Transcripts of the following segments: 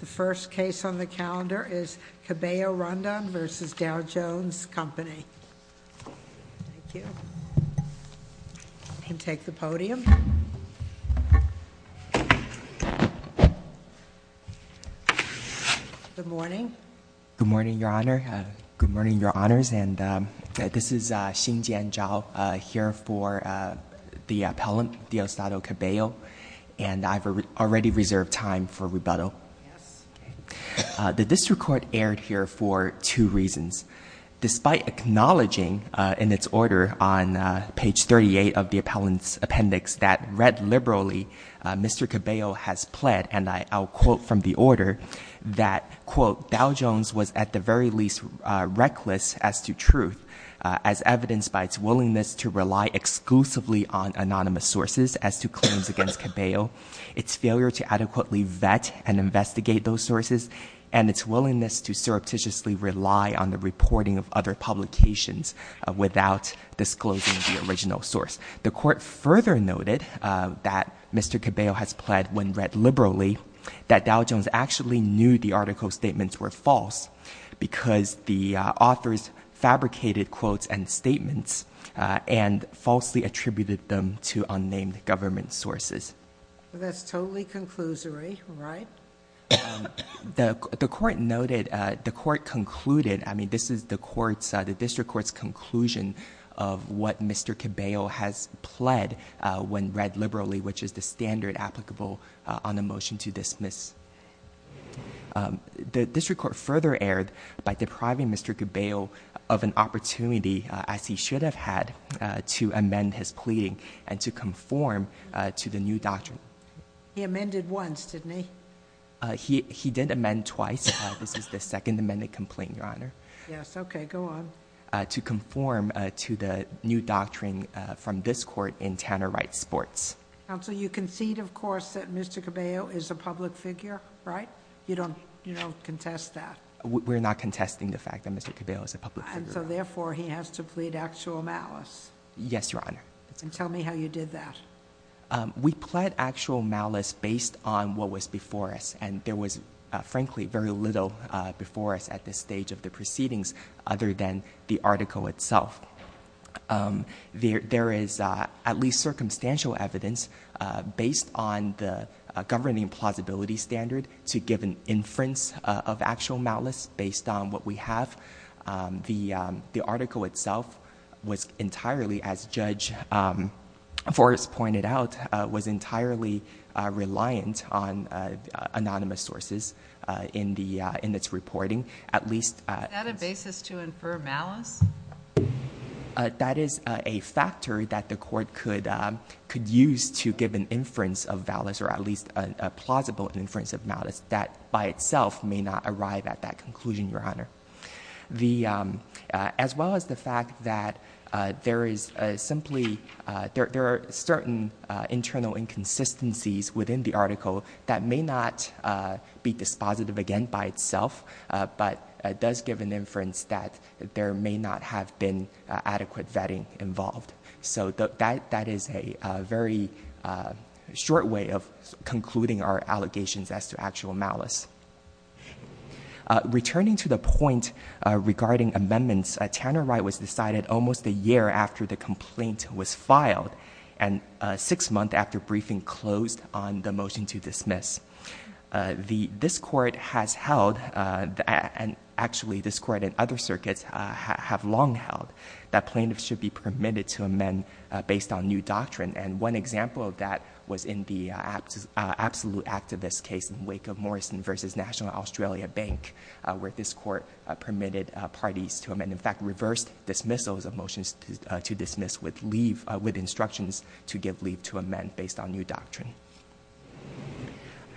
The first case on the calendar is Cabello-Rondon v. Dow Jones Company. Thank you. You can take the podium. Good morning. Good morning, your honor. Good morning, your honors. And this is Xin Jian Zhao, here for the appellant, Dio Stato Cabello. And I've already reserved time for rebuttal. The district court aired here for two reasons. Despite acknowledging in its order on page 38 of the appellant's appendix that read liberally, Mr. Cabello has pled, and I'll quote from the order, that, quote, Dow Jones was at the very least reckless as to truth, as evidenced by its willingness to rely exclusively on anonymous sources as to claims against Cabello, its failure to adequately vet and investigate those sources, and its willingness to surreptitiously rely on the reporting of other publications without disclosing the original source. The court further noted that Mr. Cabello has pled when read liberally that Dow Jones actually knew the article's statements were false because the author's and falsely attributed them to unnamed government sources. That's totally conclusory, right? The court noted, the court concluded, I mean, this is the court's, the district court's conclusion of what Mr. Cabello has pled when read liberally, which is the standard applicable on the motion to dismiss. The district court further erred by depriving Mr. Cabello of an opportunity, as he should have had, to amend his pleading and to conform to the new doctrine. He amended once, didn't he? He did amend twice. This is the second amended complaint, Your Honor. Yes, okay, go on. To conform to the new doctrine from this court in Tanner Wright Sports. Counsel, you concede, of course, that Mr. Cabello is a public figure, right? You don't contest that. We're not contesting the fact that Mr. Cabello is a public figure. And so therefore, he has to plead actual malice. Yes, Your Honor. And tell me how you did that. We pled actual malice based on what was before us, and there was, frankly, very little before us at this stage of the proceedings other than the article itself. There is at least circumstantial evidence based on the governing plausibility standard to give an inference of actual malice based on what we have. The article itself was entirely, as Judge Forrest pointed out, was entirely reliant on anonymous sources in its reporting. At least- Is that a basis to infer malice? That is a factor that the court could use to give an inference of malice, or at least a plausible inference of malice, that by itself may not arrive at that conclusion, Your Honor. As well as the fact that there are certain internal inconsistencies within the article that may not be dispositive, again, by itself. But it does give an inference that there may not have been adequate vetting involved. So that is a very short way of concluding our allegations as to actual malice. Returning to the point regarding amendments, Tanner Wright was decided almost a year after the complaint was filed, and six months after briefing closed on the motion to dismiss. This court has held, and actually this court and other circuits have long held, that plaintiffs should be permitted to amend based on new doctrine. And one example of that was in the absolute act of this case in wake of Morrison versus National Australia Bank, where this court permitted parties to amend. In fact, reversed dismissals of motions to dismiss with instructions to give leave to amend based on new doctrine.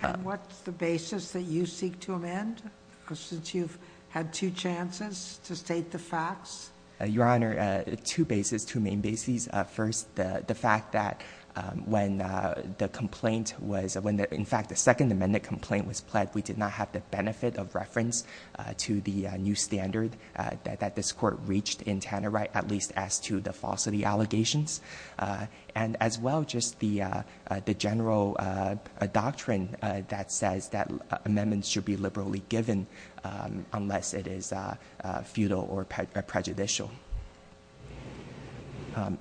And what's the basis that you seek to amend, since you've had two chances to state the facts? Your Honor, two bases, two main bases. First, the fact that when the complaint was, in fact, the second amendment complaint was pled, we did not have the benefit of reference to the new standard that this court reached in Tanner Wright, at least as to the falsity allegations. And as well, just the general doctrine that says that amendments should be liberally given unless it is futile or prejudicial.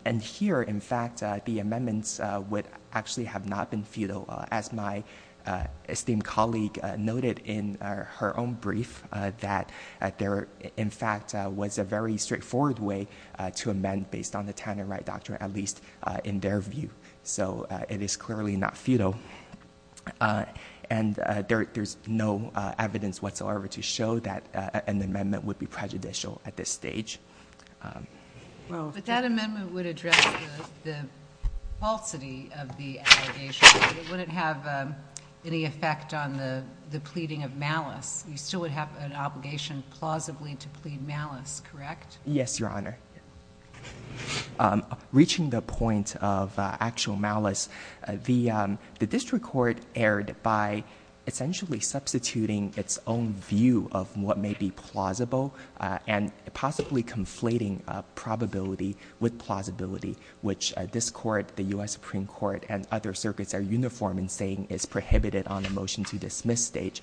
And here, in fact, the amendments would actually have not been futile. As my esteemed colleague noted in her own brief that there, in fact, was a very straightforward way to amend based on the Tanner Wright doctrine, at least in their view. So, it is clearly not futile. And there's no evidence whatsoever to show that an amendment would be prejudicial at this stage. But that amendment would address the falsity of the allegation. It wouldn't have any effect on the pleading of malice. You still would have an obligation, plausibly, to plead malice, correct? Yes, Your Honor. Reaching the point of actual malice, the district court erred by essentially substituting its own view of what may be plausible and possibly conflating probability with plausibility, which this court, the US Supreme Court, and other circuits are uniform in saying is prohibited on a motion to dismiss stage.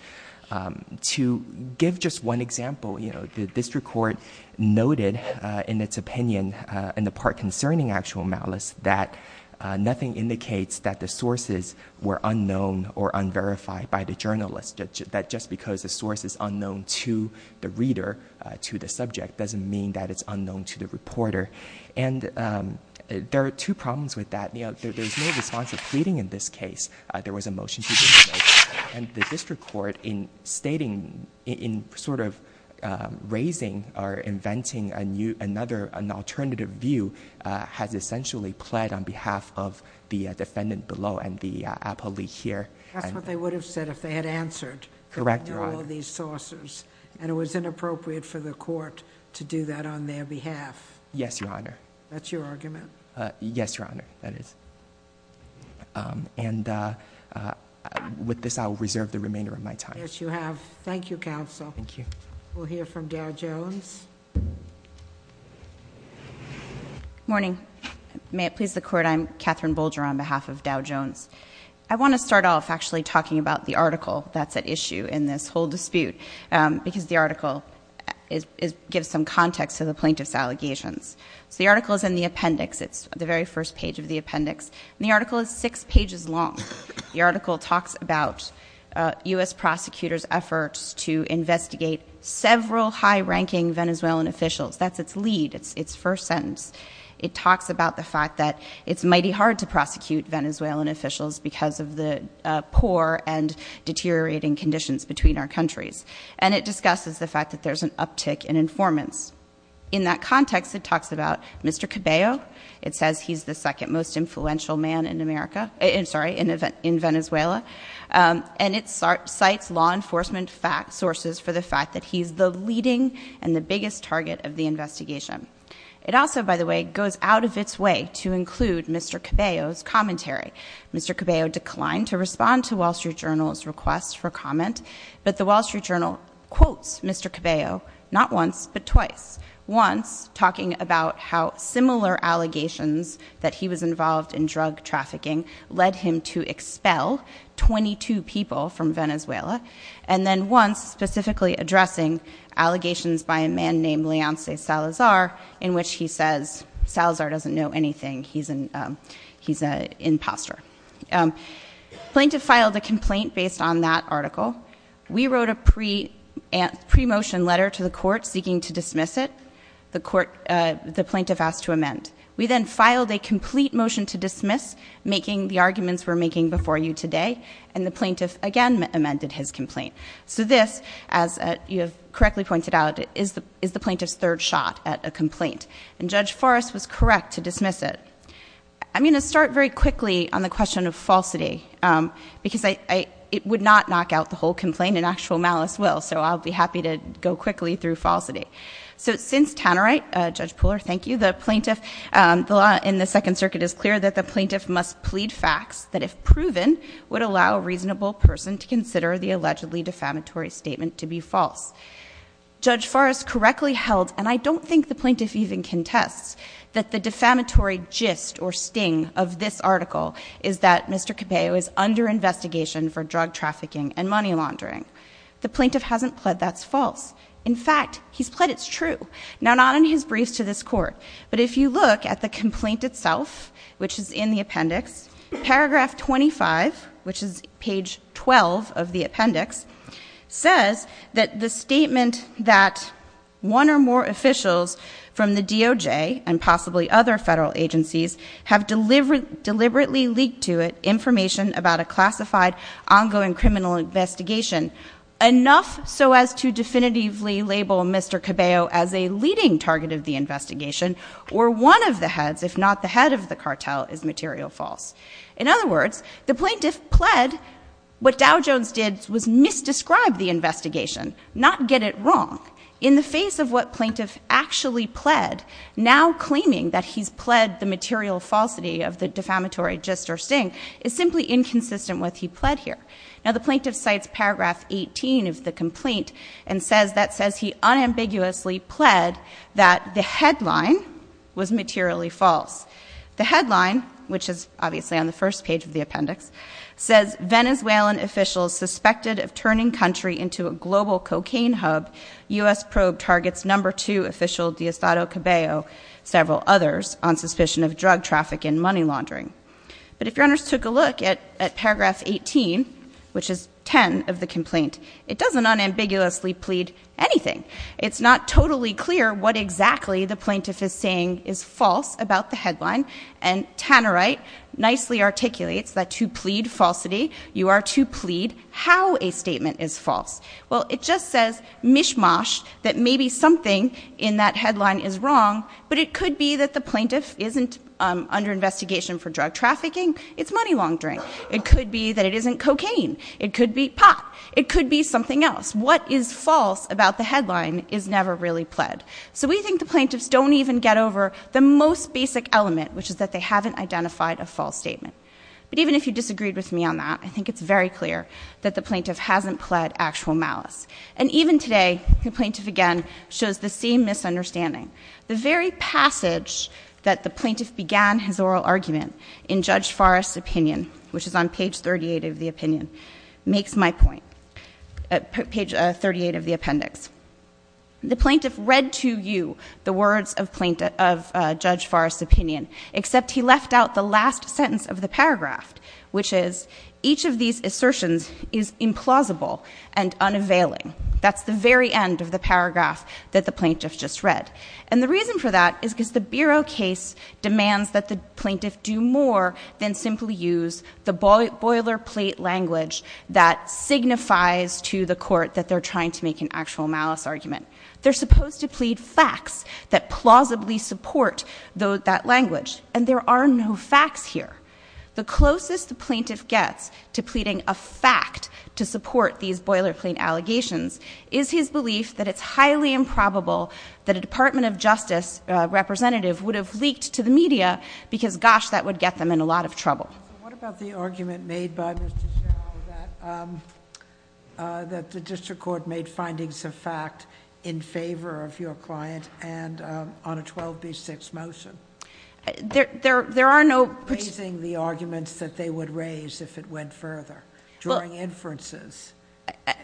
To give just one example, the district court noted in its opinion, in the part concerning actual malice, that nothing indicates that the sources were unknown or unverified by the journalist, that just because the source is unknown to the reader, to the subject, doesn't mean that it's unknown to the reporter. And there are two problems with that. There's no response of pleading in this case. There was a motion to dismiss. And the district court, in stating, in sort of raising or inventing another, an alternative view, has essentially pled on behalf of the defendant below and the appellee here. That's what they would have said if they had answered. Correct, Your Honor. All these sources. And it was inappropriate for the court to do that on their behalf. Yes, Your Honor. That's your argument. Yes, Your Honor, that is. And with this, I will reserve the remainder of my time. Yes, you have. Thank you, counsel. Thank you. We'll hear from Dow Jones. Morning. May it please the court, I'm Catherine Bolger on behalf of Dow Jones. I want to start off actually talking about the article that's at issue in this whole dispute, because the article gives some context to the plaintiff's allegations. So the article's in the appendix. It's the very first page of the appendix, and the article is six pages long. The article talks about US prosecutors' efforts to investigate several high-ranking Venezuelan officials. That's its lead, its first sentence. It talks about the fact that it's mighty hard to prosecute Venezuelan officials because of the poor and deteriorating conditions between our countries, and it discusses the fact that there's an uptick in informants. In that context, it talks about Mr. Cabello. It says he's the second most influential man in Venezuela, and it cites law enforcement sources for the fact that he's the leading and the biggest target of the investigation. It also, by the way, goes out of its way to include Mr. Cabello's commentary. Mr. Cabello declined to respond to Wall Street Journal's request for comment, but the Wall Street Journal quotes Mr. Cabello, not once, but twice. Once, talking about how similar allegations that he was involved in drug trafficking led him to expel 22 people from Venezuela. And then once, specifically addressing allegations by a man named Leonce Salazar, in which he says Salazar doesn't know anything, he's an imposter. Plaintiff filed a complaint based on that article. We wrote a pre-motion letter to the court seeking to dismiss it. The court, the plaintiff asked to amend. We then filed a complete motion to dismiss, making the arguments we're making before you today, and the plaintiff again amended his complaint. So this, as you have correctly pointed out, is the plaintiff's third shot at a complaint. And Judge Forrest was correct to dismiss it. I'm going to start very quickly on the question of falsity, because it would not knock out the whole complaint in actual malice will. So I'll be happy to go quickly through falsity. So since Tannerite, Judge Pooler, thank you, the plaintiff, the law in the Second Circuit is clear that the plaintiff must plead facts that, if proven, would allow a reasonable person to consider the allegedly defamatory statement to be false. Judge Forrest correctly held, and I don't think the plaintiff even contests, that the defamatory gist or sting of this article is that Mr. Cabello is under investigation for drug trafficking and money laundering. The plaintiff hasn't pled that's false. In fact, he's pled it's true. Now, not in his briefs to this court, but if you look at the complaint itself, which is in the appendix, paragraph 25, which is page 12 of the appendix, says that the statement that one or more officials from the DOJ and possibly other federal agencies have deliberately leaked to it information about a classified, ongoing criminal investigation, enough so as to definitively label Mr. Cabello as a leading target of the investigation, or one of the heads, if not the head of the cartel, is material false. In other words, the plaintiff pled what Dow Jones did was misdescribe the investigation, not get it wrong. In the face of what plaintiff actually pled, now claiming that he's pled the material falsity of the defamatory gist or sting, is simply inconsistent with he pled here. Now, the plaintiff cites paragraph 18 of the complaint and says that says he unambiguously pled that the headline was materially false. The headline, which is obviously on the first page of the appendix, says Venezuelan officials suspected of turning country into a global cocaine hub. US probe targets number two official Deistado Cabello, several others, on suspicion of drug traffic and money laundering. But if your honors took a look at paragraph 18, which is 10 of the complaint, it doesn't unambiguously plead anything. It's not totally clear what exactly the plaintiff is saying is false about the headline. And Tannerite nicely articulates that to plead falsity, you are to plead how a statement is false. Well, it just says mishmash that maybe something in that headline is wrong, but it could be that the plaintiff isn't under investigation for drug trafficking, it's money laundering. It could be that it isn't cocaine. It could be pot. It could be something else. What is false about the headline is never really pled. So we think the plaintiffs don't even get over the most basic element, which is that they haven't identified a false statement. But even if you disagreed with me on that, I think it's very clear that the plaintiff hasn't pled actual malice. And even today, the plaintiff again shows the same misunderstanding. The very passage that the plaintiff began his oral argument in Judge Forrest's opinion, which is on page 38 of the appendix, the plaintiff read to you the words of Judge Forrest's opinion. Except he left out the last sentence of the paragraph, which is each of these assertions is implausible and unavailing. That's the very end of the paragraph that the plaintiff just read. And the reason for that is because the bureau case demands that the plaintiff do more than simply use the boilerplate language that signifies to the court that they're trying to make an actual malice argument. They're supposed to plead facts that plausibly support that language, and there are no facts here. The closest the plaintiff gets to pleading a fact to support these boilerplate allegations is his belief that it's highly improbable that a Department of Justice representative would have leaked to the media. Because gosh, that would get them in a lot of trouble. What about the argument made by Mr. Chau that the district court made findings of fact in favor of your client and on a 12B6 motion? There are no- Raising the arguments that they would raise if it went further during inferences.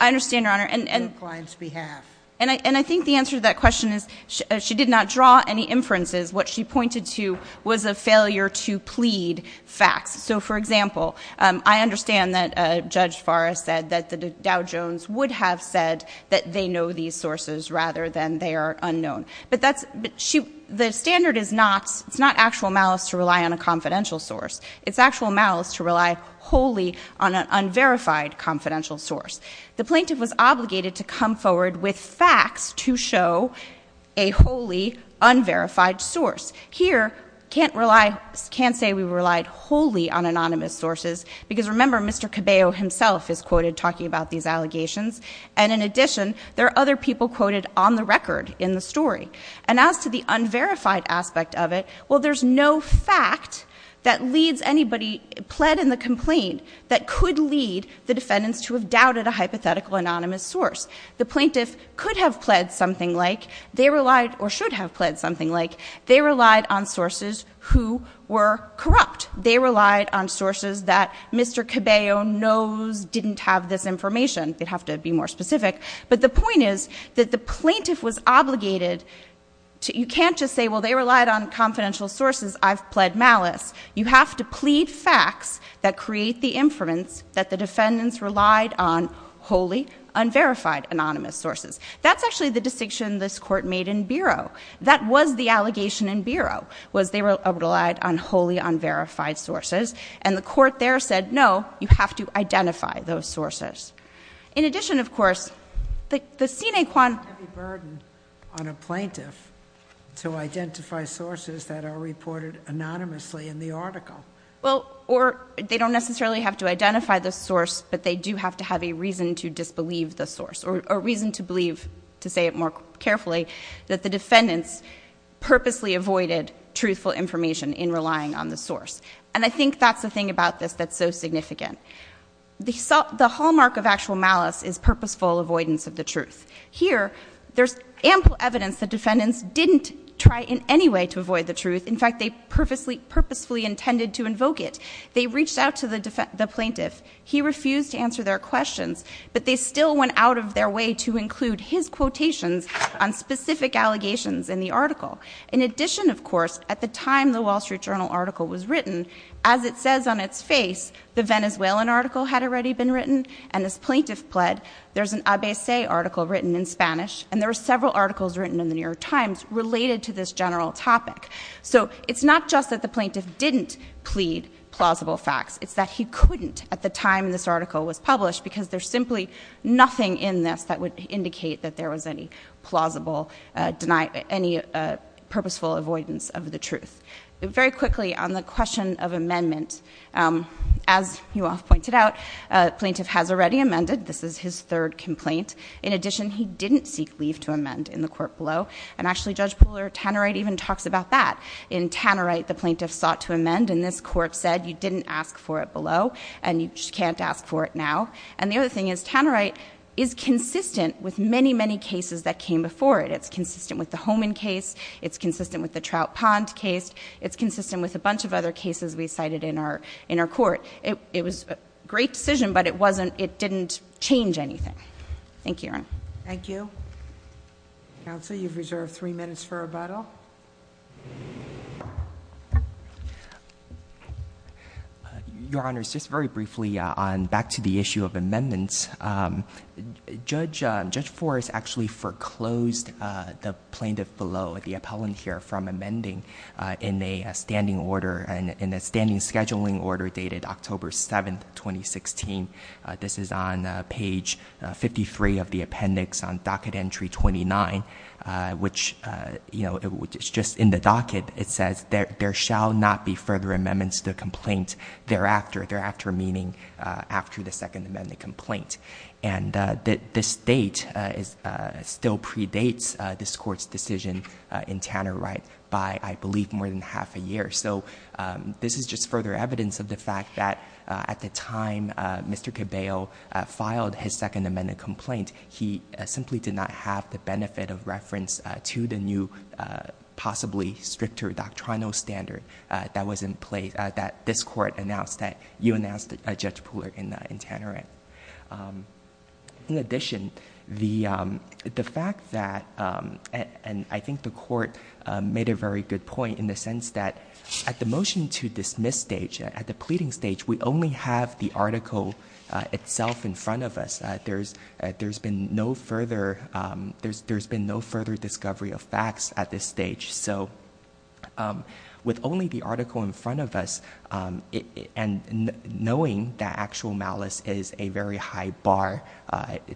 I understand, Your Honor, and I think the answer to that question is she did not draw any inferences. What she pointed to was a failure to plead facts. So for example, I understand that Judge Farah said that the Dow Jones would have said that they know these sources rather than they are unknown. But the standard is not, it's not actual malice to rely on a confidential source. It's actual malice to rely wholly on an unverified confidential source. The plaintiff was obligated to come forward with facts to show a wholly unverified source. Here, can't say we relied wholly on anonymous sources, because remember, Mr. Cabello himself is quoted talking about these allegations. And in addition, there are other people quoted on the record in the story. And as to the unverified aspect of it, well, there's no fact that leads anybody, pled in the complaint that could lead the defendants to have doubted a hypothetical anonymous source. The plaintiff could have pled something like, they relied, or should have pled something like, they relied on sources who were corrupt. They relied on sources that Mr. Cabello knows didn't have this information. They'd have to be more specific. But the point is that the plaintiff was obligated, you can't just say, well, they relied on confidential sources, I've pled malice. You have to plead facts that create the inference that the defendants relied on wholly unverified anonymous sources. That's actually the distinction this court made in bureau. That was the allegation in bureau, was they relied on wholly unverified sources. And the court there said, no, you have to identify those sources. In addition, of course, the sine qua- Heavy burden on a plaintiff to identify sources that are reported anonymously in the article. Well, or they don't necessarily have to identify the source, but they do have to have a reason to disbelieve the source. Or a reason to believe, to say it more carefully, that the defendants purposely avoided truthful information in relying on the source. And I think that's the thing about this that's so significant. The hallmark of actual malice is purposeful avoidance of the truth. Here, there's ample evidence that defendants didn't try in any way to avoid the truth. In fact, they purposefully intended to invoke it. They reached out to the plaintiff. He refused to answer their questions, but they still went out of their way to include his quotations on specific allegations in the article. In addition, of course, at the time the Wall Street Journal article was written, as it says on its face, the Venezuelan article had already been written, and as plaintiff pled, there's an Abese article written in Spanish, and there were several articles written in the New York Times related to this general topic. So it's not just that the plaintiff didn't plead plausible facts. It's that he couldn't at the time this article was published, because there's simply nothing in this that would indicate that there was any plausible, any purposeful avoidance of the truth. Very quickly, on the question of amendment, as you all pointed out, plaintiff has already amended. This is his third complaint. In addition, he didn't seek leave to amend in the court below. And actually, Judge Puller Tannerite even talks about that. In Tannerite, the plaintiff sought to amend, and this court said you didn't ask for it below, and you can't ask for it now. And the other thing is Tannerite is consistent with many, many cases that came before it. It's consistent with the Homan case, it's consistent with the Trout Pond case, it's consistent with a bunch of other cases we cited in our court. It was a great decision, but it didn't change anything. Thank you, Your Honor. Thank you. Counsel, you've reserved three minutes for rebuttal. Your Honor, just very briefly on back to the issue of amendments. Judge Forrest actually foreclosed the plaintiff below, the appellant here, from amending in a standing order, in a standing scheduling order dated October 7th, 2016. This is on page 53 of the appendix on docket entry 29, which is just in the docket, it says there shall not be further amendments to the complaint thereafter. Thereafter meaning after the second amendment complaint. And this date still predates this court's decision in Tannerite by, I believe, more than half a year. So this is just further evidence of the fact that at the time Mr. Cabello filed his second amendment complaint, he simply did not have the benefit of reference to the new, possibly stricter doctrinal standard that was in place, that this court announced that you announced, Judge Pooler, in Tannerite. In addition, the fact that, and I think the court made a very good point in the sense that, at the motion to dismiss stage, at the pleading stage, we only have the article itself in front of us. There's been no further discovery of facts at this stage. So with only the article in front of us, and knowing that actual malice is a very high bar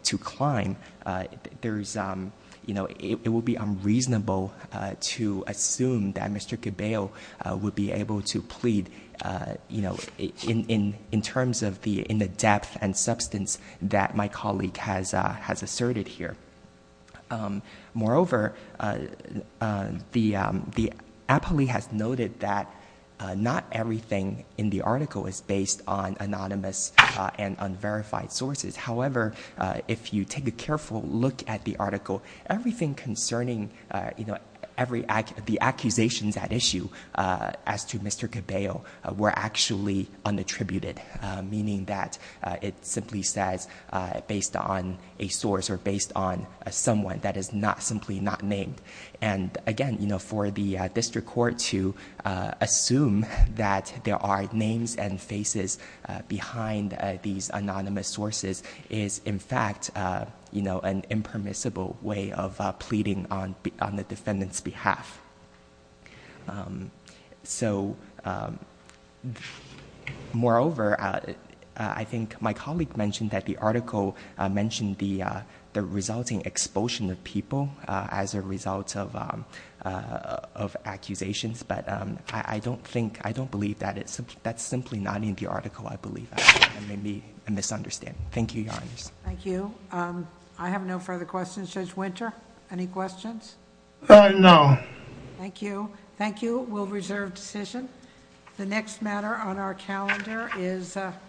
to climb, it would be unreasonable to assume that Mr. Cabello would be able to plead in terms of the depth and substance that my colleague has asserted here. Moreover, the appellee has noted that not everything in the article is based on anonymous and unverified sources. However, if you take a careful look at the article, everything concerning the accusations at issue as to Mr. Cabello were actually unattributed. Meaning that it simply says based on a source or based on someone that is not simply not named. And again, for the district court to assume that there are names and faces behind these anonymous sources is, in fact, an impermissible way of pleading on the defendant's behalf. So, moreover, I think my colleague mentioned that the article mentioned the resulting expulsion of people as a result of accusations. But I don't believe that. That's simply not in the article, I believe. That may be a misunderstanding. Thank you, your honors. Thank you. I have no further questions. Judge Winter, any questions? No. Thank you. Thank you. We'll reserve decision. The next matter on our calendar is.